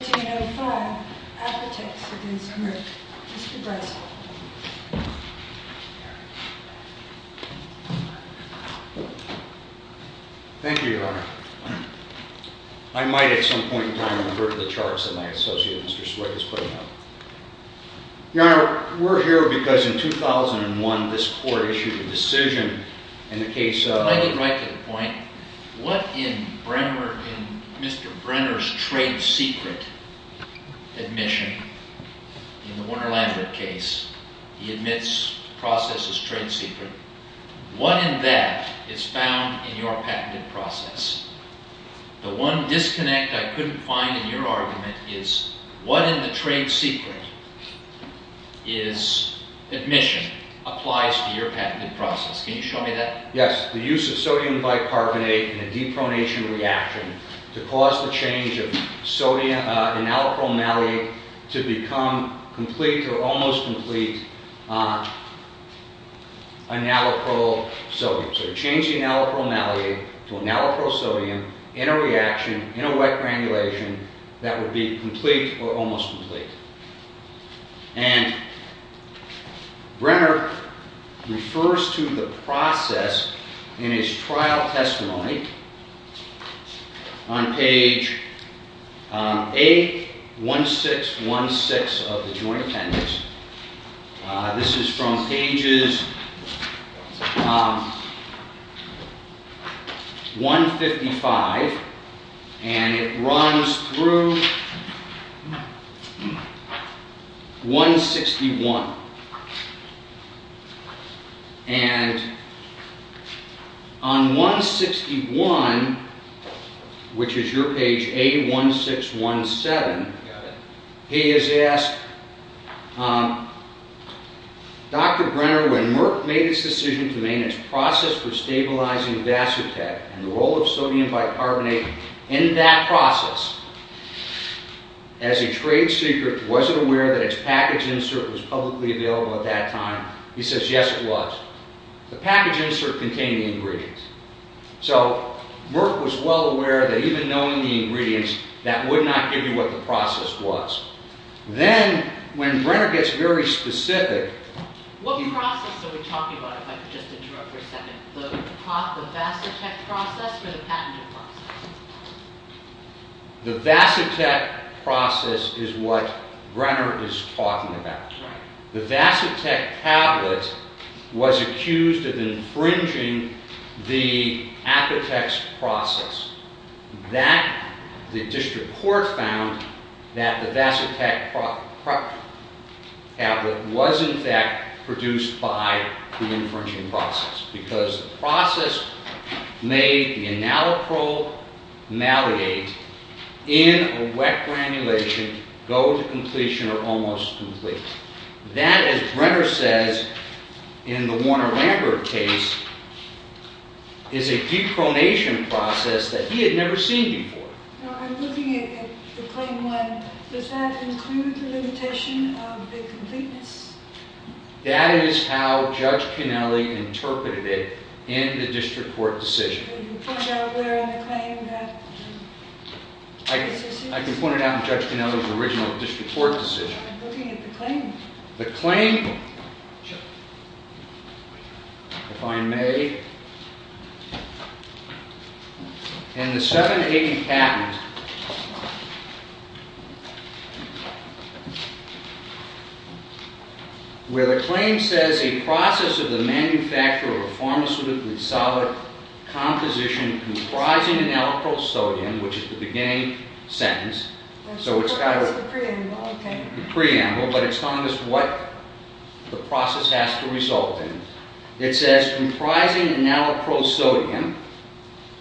Thank you, Your Honor. I might at some point in time have heard of the charts that my associate Mr. Swick is putting out. Your Honor, we're here because in 2001 this Court issued a decision in the case of- admission in the Warner-Lambert case. He admits the process is trade secret. What in that is found in your patented process? The one disconnect I couldn't find in your argument is, what in the trade secret is admission applies to your patented process? Can you show me that? Yes, the use of sodium bicarbonate in a depronation reaction to cause the change of sodium- enaloprol malate to become complete or almost complete enaloprol sodium. So to change the enaloprol malate to enaloprol sodium in a reaction, in a wet granulation, that would be complete or almost complete. And Brenner refers to the process in his trial testimony on page 81616 of the Joint Proof 161. And on 161, which is your page 81617, he is asked, Dr. Brenner, when Merck made its decision to make its process for stabilizing Vasotec and the role of sodium bicarbonate in that process, as a trade secret, was it aware that its package insert was publicly available at that time? He says, yes, it was. The package insert contained the ingredients. So Merck was well aware that even knowing the ingredients, that would not give you what the process was. Then, when Brenner gets very specific... What process are we talking about, if I could just interrupt for a second? The Vasotec process or the patented process? The Vasotec process is what Brenner is talking about. The Vasotec tablet was accused of infringing the patent that the Vasotec tablet was, in fact, produced by the infringing process. Because the process made the enaloprole maliate in a wet granulation go to completion or almost complete. That, as Brenner says, in the Warner Does that include the limitation of the completeness? That is how Judge Canelli interpreted it in the district court decision. Can you point out where in the claim that... I can point it out in Judge Canelli's original district court decision. The claim, if I may, in the 780 patent, where the claim says, a process of the manufacture of a pharmaceutical solid composition comprising enaloprole sodium, which is the beginning sentence. That's the preamble. The preamble, but it's telling us what the process has to result in. It says, comprising enaloprole sodium,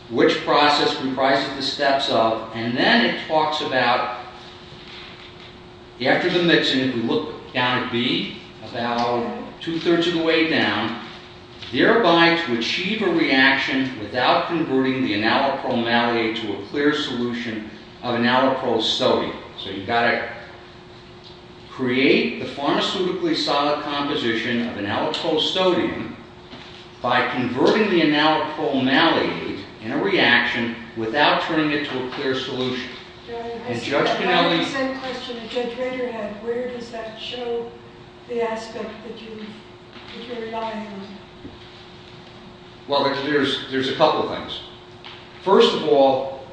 which process comprises the steps of, and then it talks about, after the mixing, we look down at B, about two-thirds of the way down. Thereby to achieve a reaction without converting the enaloprole maliate to a clear solution of enaloprole sodium. So you've got to create the pharmaceutically solid composition of enaloprole sodium by converting the enaloprole maliate in a reaction without turning it to a clear solution. I have the same question that Judge Rader had. Where does that show the aspect that you're relying on? Well, there's a couple of things. First of all,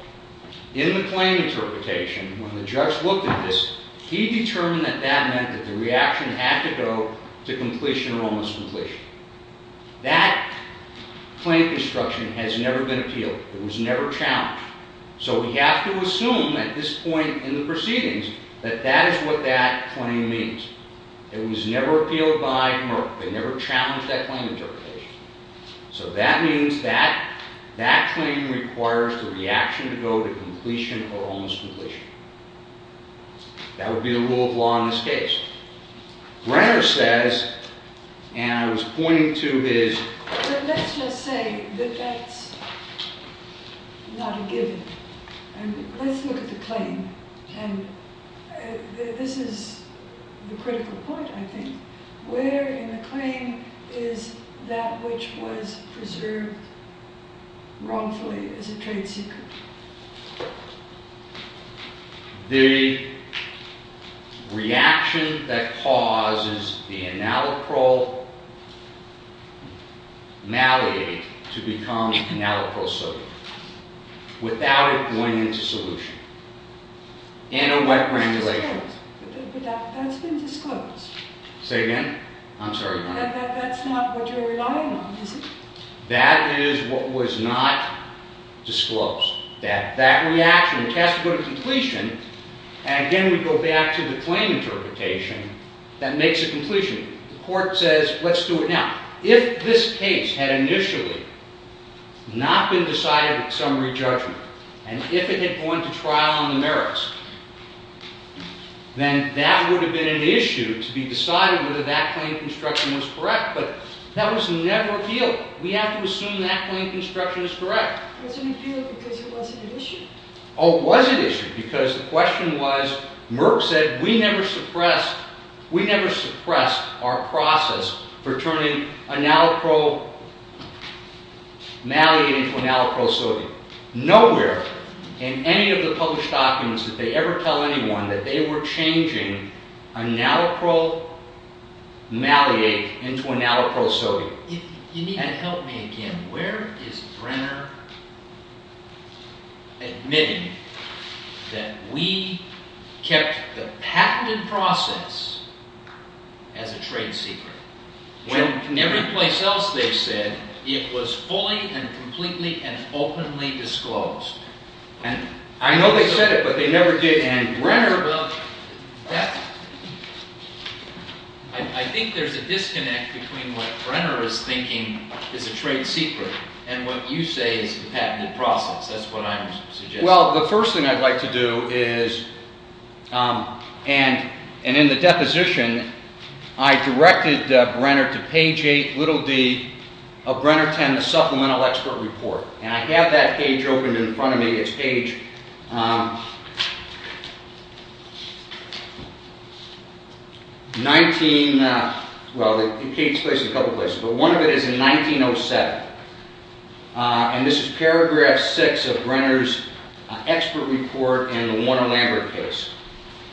in the claim interpretation, when the judge looked at this, he determined that that meant that the reaction had to go to completion or almost completion. That claim construction has never been appealed. It was never challenged. So we have to assume at this point in the proceedings that that is what that claim means. It was never appealed by Merck. They never challenged that claim interpretation. So that means that that claim requires the reaction to go to completion or almost completion. That would be the rule of law in this case. Rader says, and I was pointing to his... But let's just say that that's not a given. Let's look at the claim. And this is the critical point, I think. Where in the claim is that which was preserved wrongfully as a trade secret? The reaction that causes the analacryl malate to become analacryl sodium, without it going into solution, in a wet granulation... But that's been disclosed. Say again? I'm sorry. That's not what you're relying on, is it? That is what was not disclosed. That reaction. It has to go to completion. And again, we go back to the claim interpretation that makes it completion. The court says, let's do it now. If this case had initially not been decided at summary judgment, and if it had gone to trial on the merits, then that would have been an issue to be decided whether that claim construction was correct. But that was never appealed. We have to assume that claim construction is correct. It wasn't appealed because it wasn't an issue? Oh, it wasn't an issue, because the question was, Merck said, we never suppressed our process for turning analacryl malate into analacryl sodium. Nowhere in any of the published documents did they ever tell anyone that they were changing analacryl malate into analacryl sodium. You need to help me again. Where is Brenner admitting that we kept the patented process as a trade secret? Everywhere else they said it was fully and completely and openly disclosed. I know they said it, but they never did. I think there's a disconnect between what Brenner is thinking is a trade secret and what you say is a patented process. That's what I'm suggesting. Well, the first thing I'd like to do is – and in the deposition, I directed Brenner to page 8, little d, of Brenner 10, the Supplemental Expert Report. And I have that page opened in front of me. It's page 19 – well, the page places a couple of places, but one of it is in 1907. And this is paragraph 6 of Brenner's Expert Report in the Warner-Lambert case.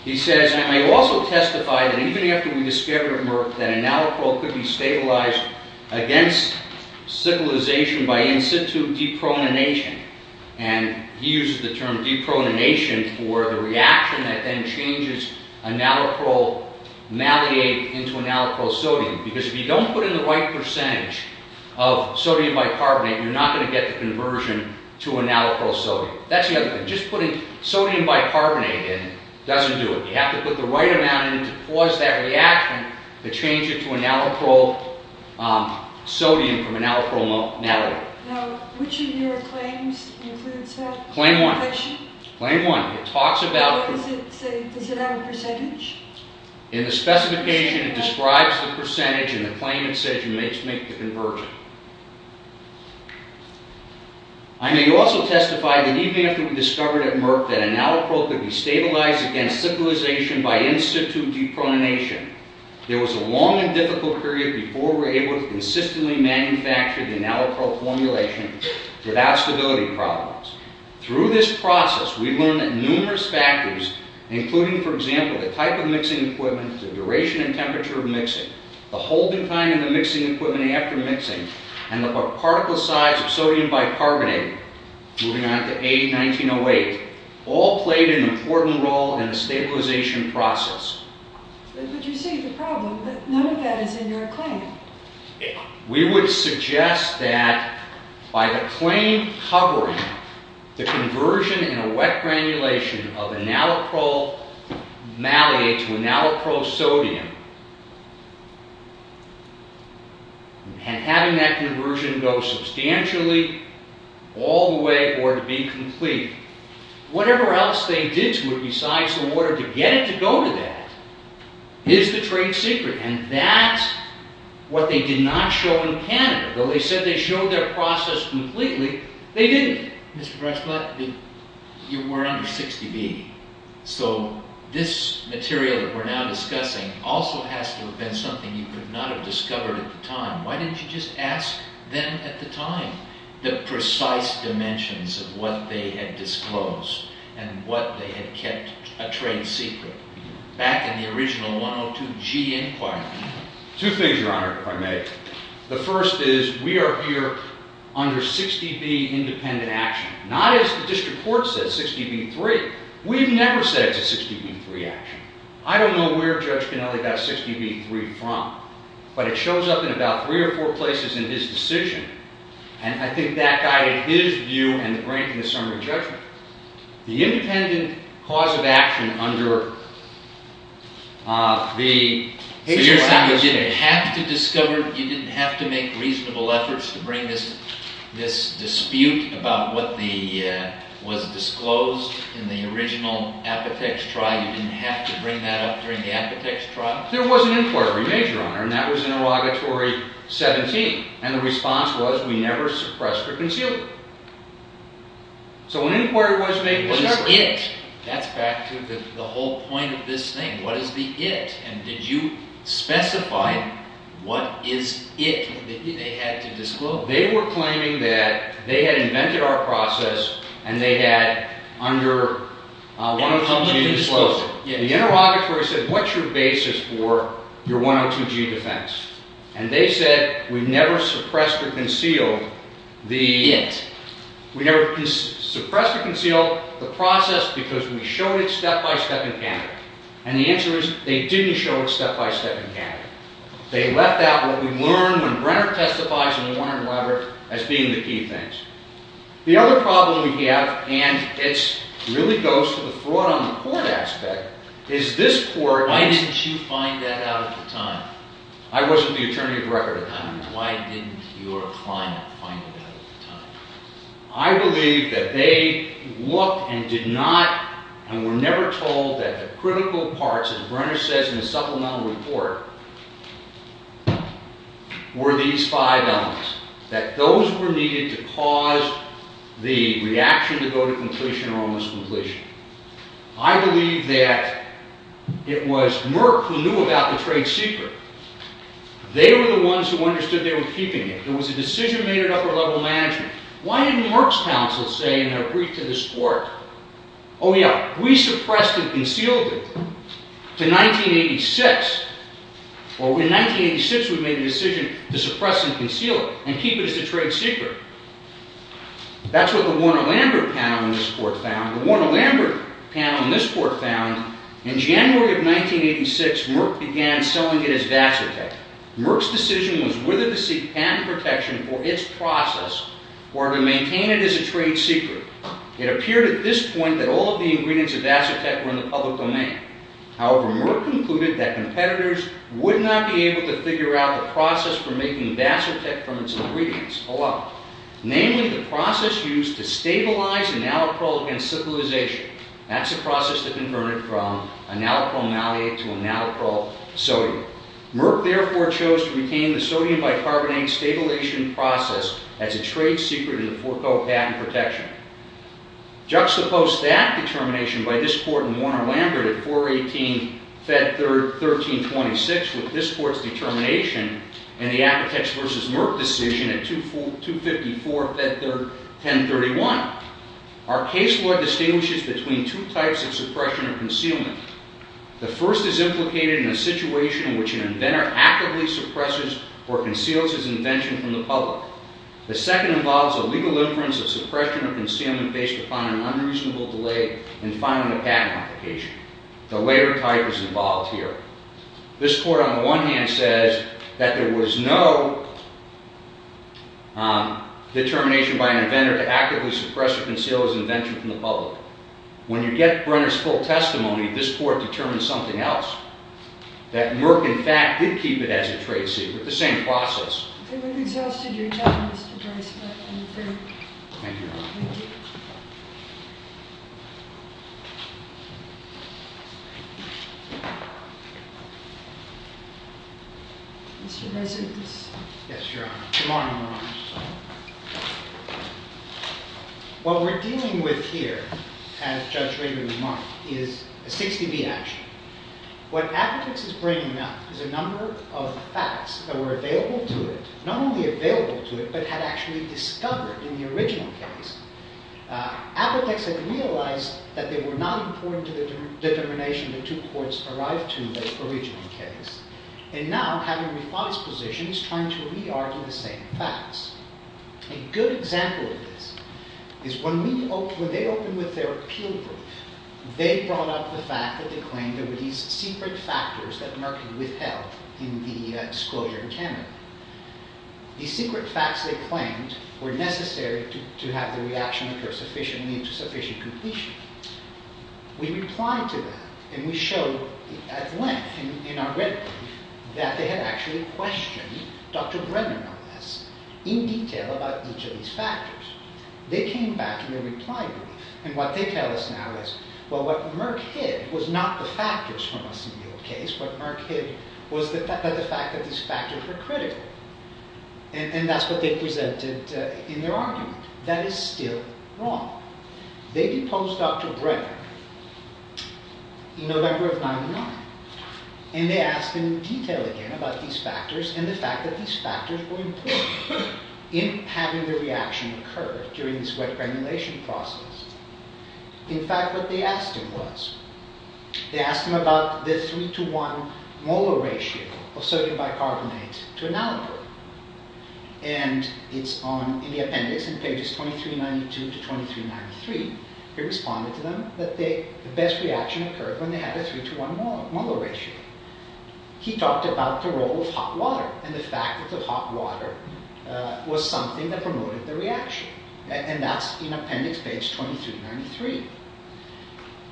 He says, I also testify that even after we discovered Merck that analacryl could be stabilized against civilization by in-situ depronination. And he uses the term depronination for the reaction that then changes analacryl malate into analacryl sodium. Because if you don't put in the right percentage of sodium bicarbonate, you're not going to get the conversion to analacryl sodium. That's the other thing. Just putting sodium bicarbonate in doesn't do it. You have to put the right amount in to cause that reaction to change it to analacryl sodium from analacryl malate. Now, which of your claims includes that? Does it have a percentage? In the specification, it describes the percentage in the claim it says you make the conversion. I may also testify that even after we discovered at Merck that analacryl could be stabilized against civilization by in-situ depronination, there was a long and difficult period before we were able to consistently manufacture the analacryl formulation without stability problems. Through this process, we learned that numerous factors, including, for example, the type of mixing equipment, the duration and temperature of mixing, the holding time of the mixing equipment after mixing, and the particle size of sodium bicarbonate, moving on to A1908, all played an important role in the stabilization process. But you say the problem, but none of that is in your claim. We would suggest that by the claim covering the conversion in a wet granulation of analacryl malate to analacryl sodium, and having that conversion go substantially all the way or to be complete, whatever else they did to it besides the water, to get it to go to that is the trade secret, and that's what they did not show in Canada. Though they said they showed their process completely, they didn't. Mr. Breisblatt, you were under 60B, so this material that we're now discussing also has to have been something you could not have discovered at the time. Why didn't you just ask them at the time the precise dimensions of what they had disclosed and what they had kept a trade secret? Back in the original 102G inquiry. Two things, Your Honor, if I may. The first is we are here under 60B independent action. Not as the district court says, 60B3. We've never said it's a 60B3 action. I don't know where Judge Canelli got 60B3 from, but it shows up in about three or four places in his decision, and I think that guided his view and the grant in the Sermon on Judgment. The independent cause of action under the... So you're saying you didn't have to discover, you didn't have to make reasonable efforts to bring this dispute about what was disclosed in the original Apotex trial? You didn't have to bring that up during the Apotex trial? There was an inquiry, Major Honor, and that was interrogatory 17, and the response was we never suppressed or concealed it. So an inquiry was made. What is it? That's back to the whole point of this thing. What is the it? And did you specify what is it that they had to disclose? They were claiming that they had invented our process and they had under 102G disclosed it. The interrogatory said, what's your basis for your 102G defense? And they said, we've never suppressed or concealed the... The it. We've never suppressed or concealed the process because we showed it step by step in Canada. And the answer is they didn't show it step by step in Canada. They left out what we learned when Brenner testifies and Warner and Weber as being the key things. The other problem we have, and it really goes to the fraud on the court aspect, is this court... Why didn't you find that out at the time? I wasn't the attorney of the record at the time. Why didn't your client find it out at the time? I believe that they looked and did not and were never told that the critical parts, as Brenner says in the supplemental report, were these five elements. That those were needed to cause the reaction to go to completion or almost completion. I believe that it was Merck who knew about the trade secret. They were the ones who understood they were keeping it. It was a decision made at upper level management. Why didn't Merck's counsel say in their brief to this court, oh yeah, we suppressed and concealed it to 1986. Or in 1986 we made the decision to suppress and conceal it and keep it as a trade secret. That's what the Warner-Lambert panel in this court found. The Warner-Lambert panel in this court found in January of 1986 Merck began selling it as Vasotec. Merck's decision was whether to seek patent protection for its process or to maintain it as a trade secret. It appeared at this point that all of the ingredients of Vasotec were in the public domain. However, Merck concluded that competitors would not be able to figure out the process for making Vasotec from its ingredients alone. Namely, the process used to stabilize enalprol against syphilization. That's a process that converted from enalprol malate to enalprol sodium. Merck, therefore, chose to retain the sodium bicarbonate stabilization process as a trade secret in the forego patent protection. Juxtapose that determination by this court and Warner-Lambert at 418 Fed 1326 with this court's determination and the Apotex v. Merck decision at 254 Fed 1031. Our case law distinguishes between two types of suppression or concealment. The first is implicated in a situation in which an inventor actively suppresses or conceals his invention from the public. The second involves a legal inference of suppression or concealment based upon an unreasonable delay in filing a patent application. The later type is involved here. This court, on the one hand, says that there was no determination by an inventor to actively suppress or conceal his invention from the public. When you get Brenner's full testimony, this court determines something else. That Merck, in fact, did keep it as a trade secret, the same process. I think we've exhausted your time, Mr. Brice, but I'm afraid. Thank you, Your Honor. Thank you. Mr. Resnick, please. Yes, Your Honor. Good morning, Your Honor. What we're dealing with here, as Judge Rader remarked, is a 60-B action. What Apotex is bringing up is a number of facts that were available to it, not only available to it, but had actually discovered in the original case. Apotex had realized that they were not important to the determination the two courts arrived to in the original case. And now, having revised positions, trying to re-argue the same facts. A good example of this is when they opened with their appeal brief, they brought up the fact that they claimed there were these secret factors that Merck withheld in the disclosure in Canada. These secret facts, they claimed, were necessary to have the reaction occur sufficiently and to sufficient completion. We replied to that, and we showed at length in our written brief that they had actually questioned Dr. Brenner on this in detail about each of these factors. They came back in their reply brief, and what they tell us now is, well, what Merck hid was not the factors from a single case. What Merck hid was the fact that these factors were critical. And that's what they presented in their argument. That is still wrong. They deposed Dr. Brenner in November of 1999. And they asked in detail again about these factors and the fact that these factors were important in having the reaction occur during this wet granulation process. In fact, what they asked him was, they asked him about the 3 to 1 molar ratio of sodium bicarbonate to enalapur. And it's in the appendix in pages 2392 to 2393. He responded to them that the best reaction occurred when they had a 3 to 1 molar ratio. He talked about the role of hot water and the fact that the hot water was something that promoted the reaction. And that's in appendix page 2393.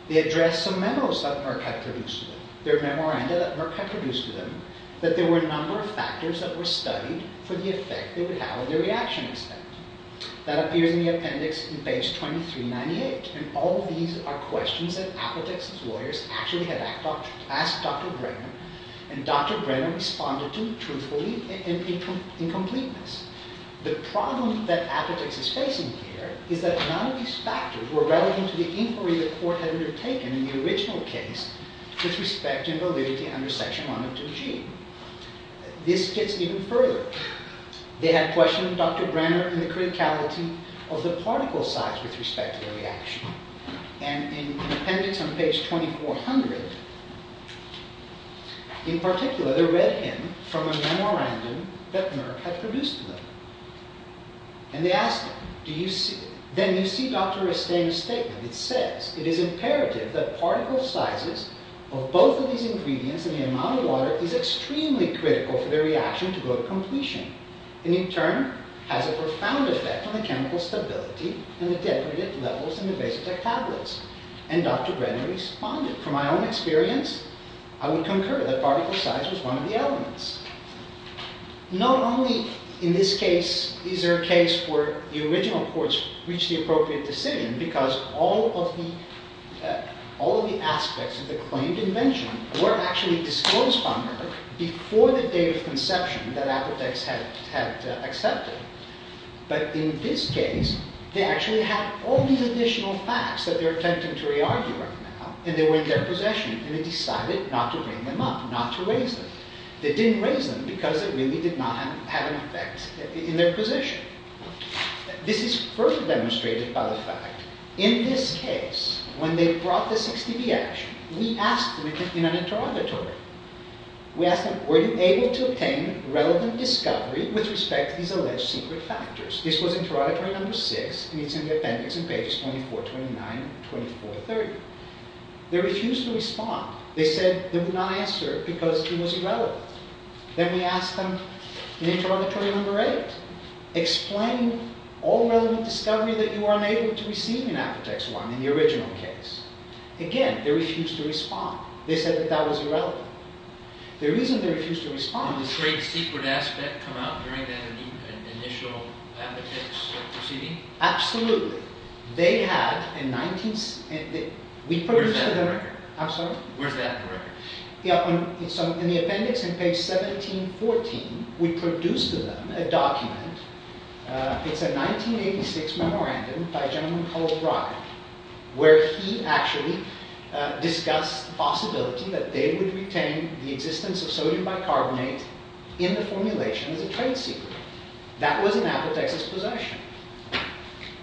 They addressed some memos that Merck had produced to them, their memoranda that Merck had produced to them, that there were a number of factors that were studied for the effect they would have on the reaction instead. That appears in the appendix in page 2398. And all of these are questions that Apotex's lawyers actually had asked Dr. Brenner. And Dr. Brenner responded to truthfully in completeness. The problem that Apotex is facing here is that none of these factors were relevant to the inquiry the court had undertaken in the original case with respect to validity under section 1 of 2G. This gets even further. They had questioned Dr. Brenner in the criticality of the particle size with respect to the reaction. And in the appendix on page 2400, in particular, they read him from a memorandum that Merck had produced to them. And they asked him, then you see Dr. Restain's statement. It says, it is imperative that particle sizes of both of these ingredients and the amount of water is extremely critical for the reaction to go to completion. And in turn, has a profound effect on the chemical stability and the depredate levels in the vasoduct tablets. And Dr. Brenner responded, from my own experience, I would concur that particle size was one of the elements. Not only in this case is there a case where the original courts reached the appropriate decision, because all of the aspects of the claimed invention were actually disclosed by Merck before the date of conception that Apotex had accepted. But in this case, they actually had all these additional facts that they're attempting to re-argue right now. And they were in their possession. And they decided not to bring them up, not to raise them. They didn't raise them because it really did not have an effect in their possession. This is further demonstrated by the fact, in this case, when they brought the 60B action, we asked them in an interrogatory. We asked them, were you able to obtain relevant discovery with respect to these alleged secret factors? This was interrogatory number six, and it's in the appendix in pages 24, 29, 24, 30. They refused to respond. They said they would not answer because it was irrelevant. Then we asked them in interrogatory number eight, explain all relevant discovery that you were unable to receive in Apotex I, in the original case. Again, they refused to respond. They said that that was irrelevant. The reason they refused to respond... Did the trade secret aspect come out during the initial Apotex proceeding? Absolutely. Where's that in the record? I'm sorry? Where's that in the record? In the appendix in page 17, 14, we produced to them a document. It's a 1986 memorandum by a gentleman called Brockett, where he actually discussed the possibility that they would retain the existence of sodium bicarbonate in the formulation as a trade secret. That was in Apotex's possession.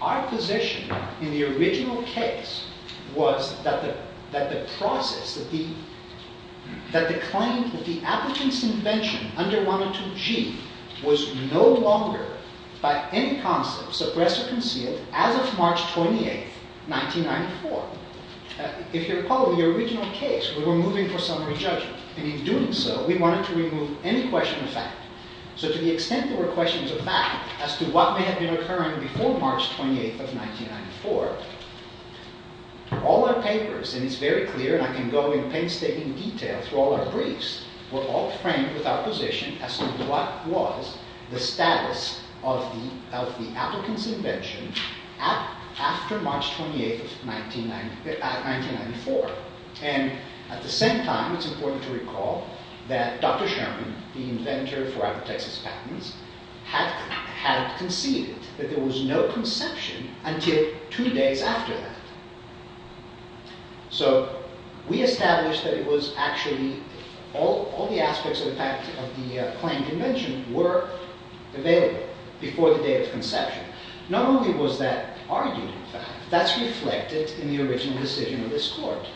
Our position in the original case was that the process, that the claim, that the applicant's invention under 102G was no longer, by any concept, suppressed or concealed as of March 28, 1994. If you recall, in the original case, we were moving for summary judgment. In doing so, we wanted to remove any question of fact. To the extent there were questions of fact as to what may have been occurring before March 28, 1994, all our papers, and it's very clear, and I can go in painstaking detail through all our briefs, were all framed with our position as to what was the status of the applicant's invention after March 28, 1994. At the same time, it's important to recall that Dr. Sherman, the inventor for Apotex's patents, had conceded that there was no conception until two days after that. So, we established that it was actually, all the aspects of the fact of the claimed invention were available before the date of conception. Not only was that argued in fact, that's reflected in the original decision of this court.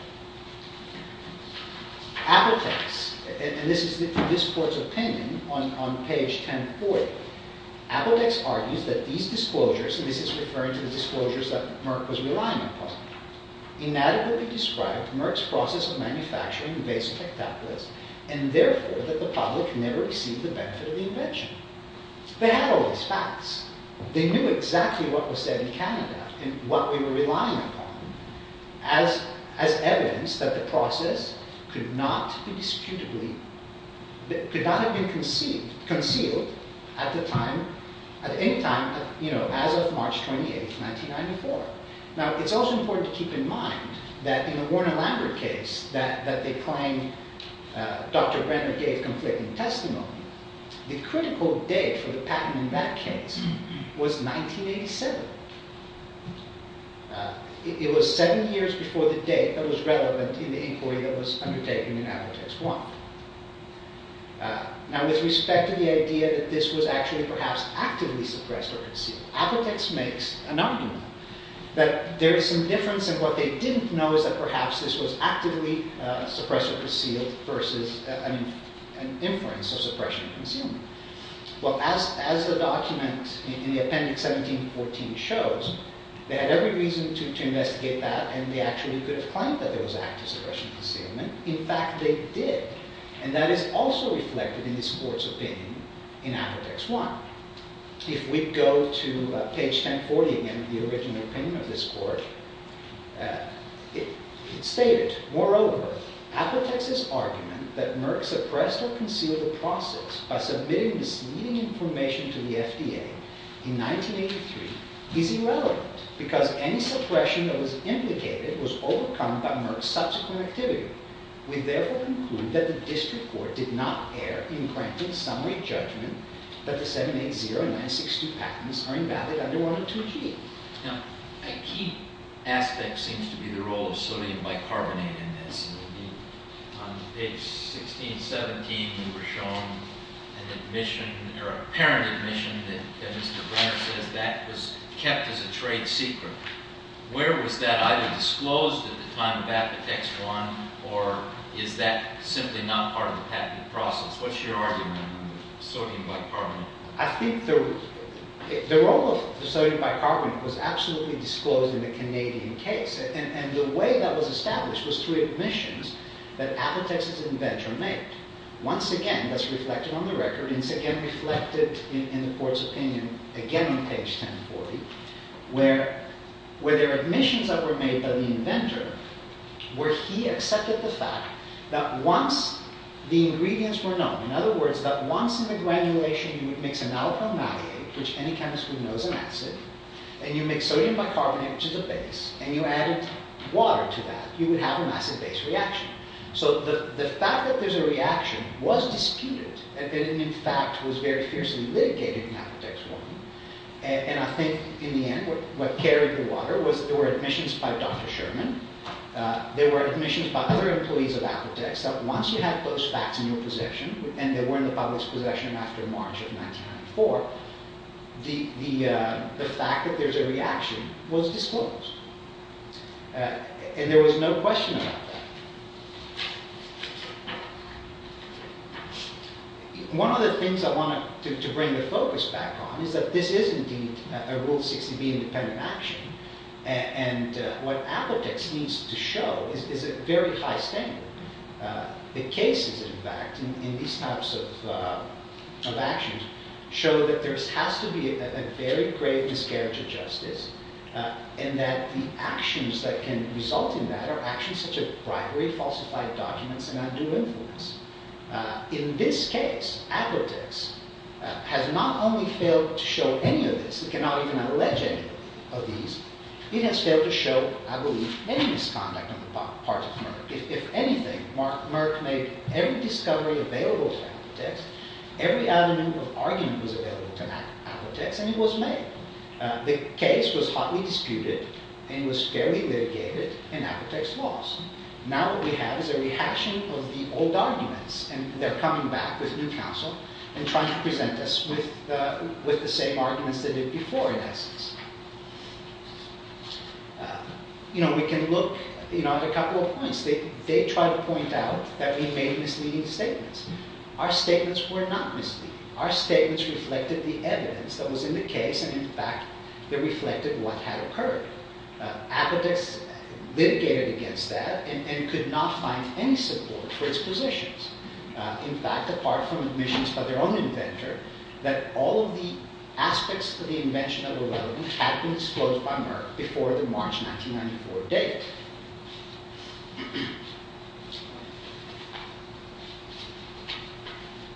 Apotex, and this is this court's opinion on page 1040, Apotex argues that these disclosures, and this is referring to the disclosures that Merck was relying upon, Inadequately described Merck's process of manufacturing invasive hectoplasts, and therefore that the public never received the benefit of the invention. They had all these facts. They knew exactly what was said in Canada, and what we were relying upon, as evidence that the process could not have been concealed at any time as of March 28, 1994. Now, it's also important to keep in mind that in the Warner-Lambert case that they claimed Dr. Brenner gave conflicting testimony, the critical date for the patent in that case was 1987. It was seven years before the date that was relevant in the inquiry that was undertaken in Apotex I. Now, with respect to the idea that this was actually perhaps actively suppressed or concealed, Apotex makes an argument that there is some difference, and what they didn't know is that perhaps this was actively suppressed or concealed versus an inference of suppression or concealment. Well, as the document in the appendix 1714 shows, they had every reason to investigate that, and they actually could have claimed that there was active suppression or concealment. In fact, they did, and that is also reflected in this Court's opinion in Apotex I. If we go to page 1040 again, the original opinion of this Court, it stated, Moreover, Apotex's argument that Merck suppressed or concealed the process by submitting misleading information to the FDA in 1983 is irrelevant because any suppression that was implicated was overcome by Merck's subsequent activity. We therefore conclude that the District Court did not err in granting summary judgment that the 780962 patents are invalid under 102G. Now, a key aspect seems to be the role of sodium bicarbonate in this. On page 1617, we were shown an admission, or apparent admission, that Mr. Brenner says that was kept as a trade secret. Where was that either disclosed at the time of Apotex I, or is that simply not part of the patent process? What's your argument on sodium bicarbonate? I think the role of sodium bicarbonate was absolutely disclosed in the Canadian case. And the way that was established was through admissions that Apotex's inventor made. Once again, that's reflected on the record, and it's again reflected in the Court's opinion, again on page 1040, where there are admissions that were made by the inventor where he accepted the fact that once the ingredients were known, in other words, that once in the granulation you would mix an alpha malate, which any chemist would know is an acid, and you mix sodium bicarbonate, which is a base, and you added water to that, you would have an acid-base reaction. So the fact that there's a reaction was disputed, and it in fact was very fiercely litigated in Apotex I. And I think in the end what carried the water was there were admissions by Dr. Sherman, there were admissions by other employees of Apotex, that once you have those facts in your possession, and they were in the public's possession after March of 1904, the fact that there's a reaction was disclosed. And there was no question about that. One of the things I wanted to bring the focus back on is that this is indeed a Rule 60B independent action, and what Apotex needs to show is a very high standard. The cases, in fact, in these types of actions, show that there has to be a very grave miscarriage of justice, and that the actions that can result in that are actually such a bribery, falsified documents, and undue influence. In this case, Apotex has not only failed to show any of this, it cannot even allege any of these, it has failed to show, I believe, any misconduct on the part of Merck. If anything, Merck made every discovery available to Apotex, every element of argument was available to Apotex, and it was made. The case was hotly disputed, and it was fairly litigated, and Apotex lost. Now what we have is a reaction of the old arguments, and they're coming back with new counsel, and trying to present us with the same arguments they did before, in essence. We can look at a couple of points. They tried to point out that we made misleading statements. Our statements were not misleading. Our statements reflected the evidence that was in the case, and in fact, they reflected what had occurred. Apotex litigated against that, and could not find any support for its positions. In fact, apart from admissions by their own inventor, that all of the aspects of the invention that were relevant had been disclosed by Merck before the March 1994 date.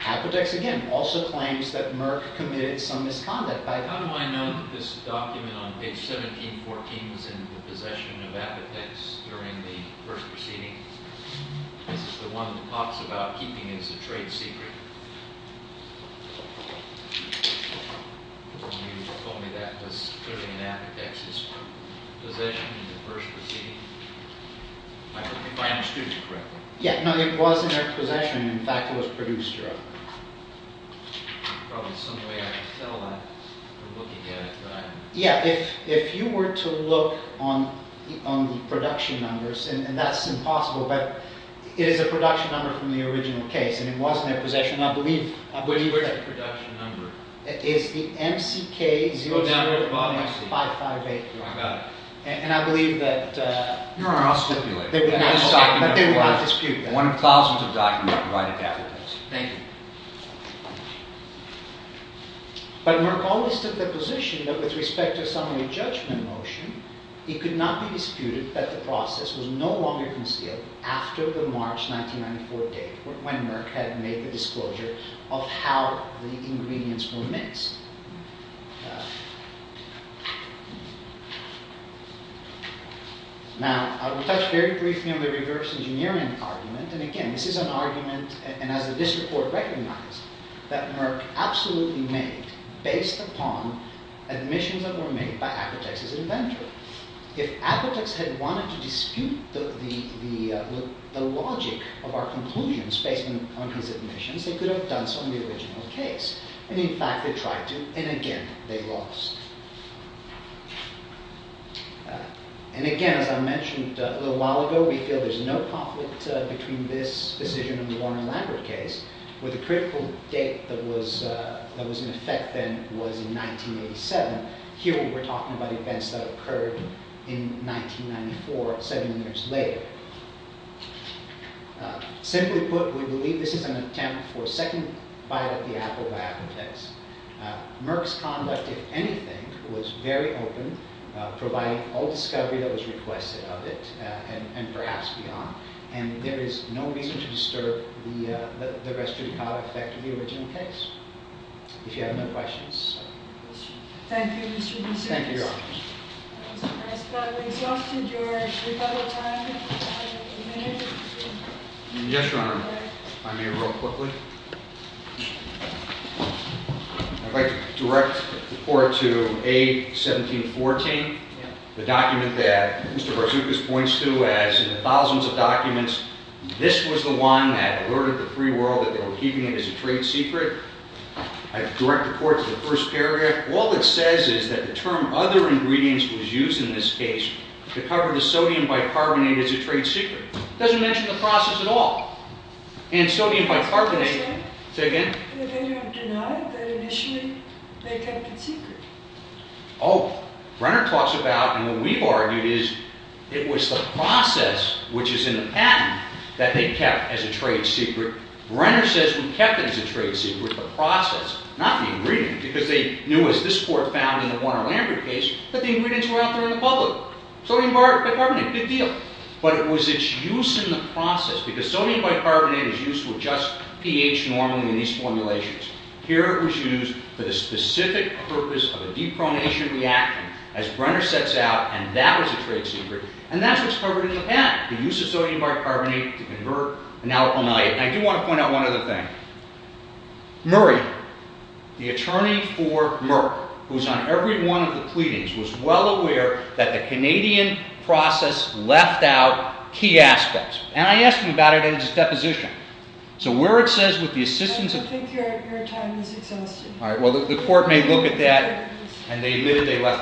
Apotex, again, also claims that Merck committed some misconduct. How do I know that this document on page 1714 was in the possession of Apotex during the first proceeding? This is the one that talks about keeping it as a trade secret. You told me that was clearly in Apotex's possession in the first proceeding. If I understood you correctly. Yeah, no, it was in their possession. In fact, it was produced directly. There's probably some way I can tell that from looking at it. Yeah, if you were to look on the production numbers, and that's impossible, but it is a production number from the original case, and it was in their possession. Where's the production number? It's the MCK-00-558. I got it. And I believe that... Your Honor, I'll stipulate. But they will not dispute that. One of thousands of documents provided by Apotex. Thank you. But Merck always took the position that with respect to summary judgment motion, it could not be disputed that the process was no longer concealed after the March 1994 date, when Merck had made the disclosure of how the ingredients were mixed. Now, I will touch very briefly on the reverse engineering argument, and again, this is an argument, and as the district court recognized, that Merck absolutely made based upon admissions that were made by Apotex's inventor. If Apotex had wanted to dispute the logic of our conclusions based on his admissions, they could have done so in the original case. And in fact, they tried to, and again, they lost. And again, as I mentioned a little while ago, we feel there's no conflict between this decision and the Warner-Lambert case, where the critical date that was in effect then was in 1987. Here, we're talking about events that occurred in 1994, seven years later. Simply put, we believe this is an attempt for a second bite at the apple by Apotex. Merck's conduct, if anything, was very open, providing all discovery that was requested of it, and perhaps beyond. And there is no reason to disturb the restrictive effect of the original case, if you have no questions. Thank you, Mr. Boussiris. Thank you, Your Honor. Mr. Harris, we've exhausted your rebuttal time. Yes, Your Honor. If I may, real quickly. I'd like to direct the Court to A. 1714, the document that Mr. Barzoukas points to as, in the thousands of documents, this was the one that alerted the free world that they were keeping it as a trade secret. I direct the Court to the first paragraph. All it says is that the term other ingredients was used in this case to cover the sodium bicarbonate as a trade secret. It doesn't mention the process at all. And sodium bicarbonate... Say again? You have denied that initially they kept it secret. Oh. Brenner talks about, and what we've argued is, it was the process, which is in the patent, that they kept as a trade secret. Brenner says we kept it as a trade secret, the process, not the ingredient, because they knew, as this Court found in the Warner-Lambert case, that the ingredients were out there in the public. Sodium bicarbonate, good deal. But it was its use in the process, because sodium bicarbonate is used with just pH normally in these formulations. Here it was used for the specific purpose of a depronation reaction, as Brenner sets out, and that was a trade secret. And that's what's covered in the patent, the use of sodium bicarbonate to convert an alkyl amylate. And I do want to point out one other thing. Murray, the attorney for Merck, who's on every one of the pleadings, was well aware that the Canadian process left out key aspects. And I asked him about it in his deposition. So where it says with the assistance of... I don't think your time is exhausted. All right, well, the Court may look at that. And they admitted they left that out. Thank you.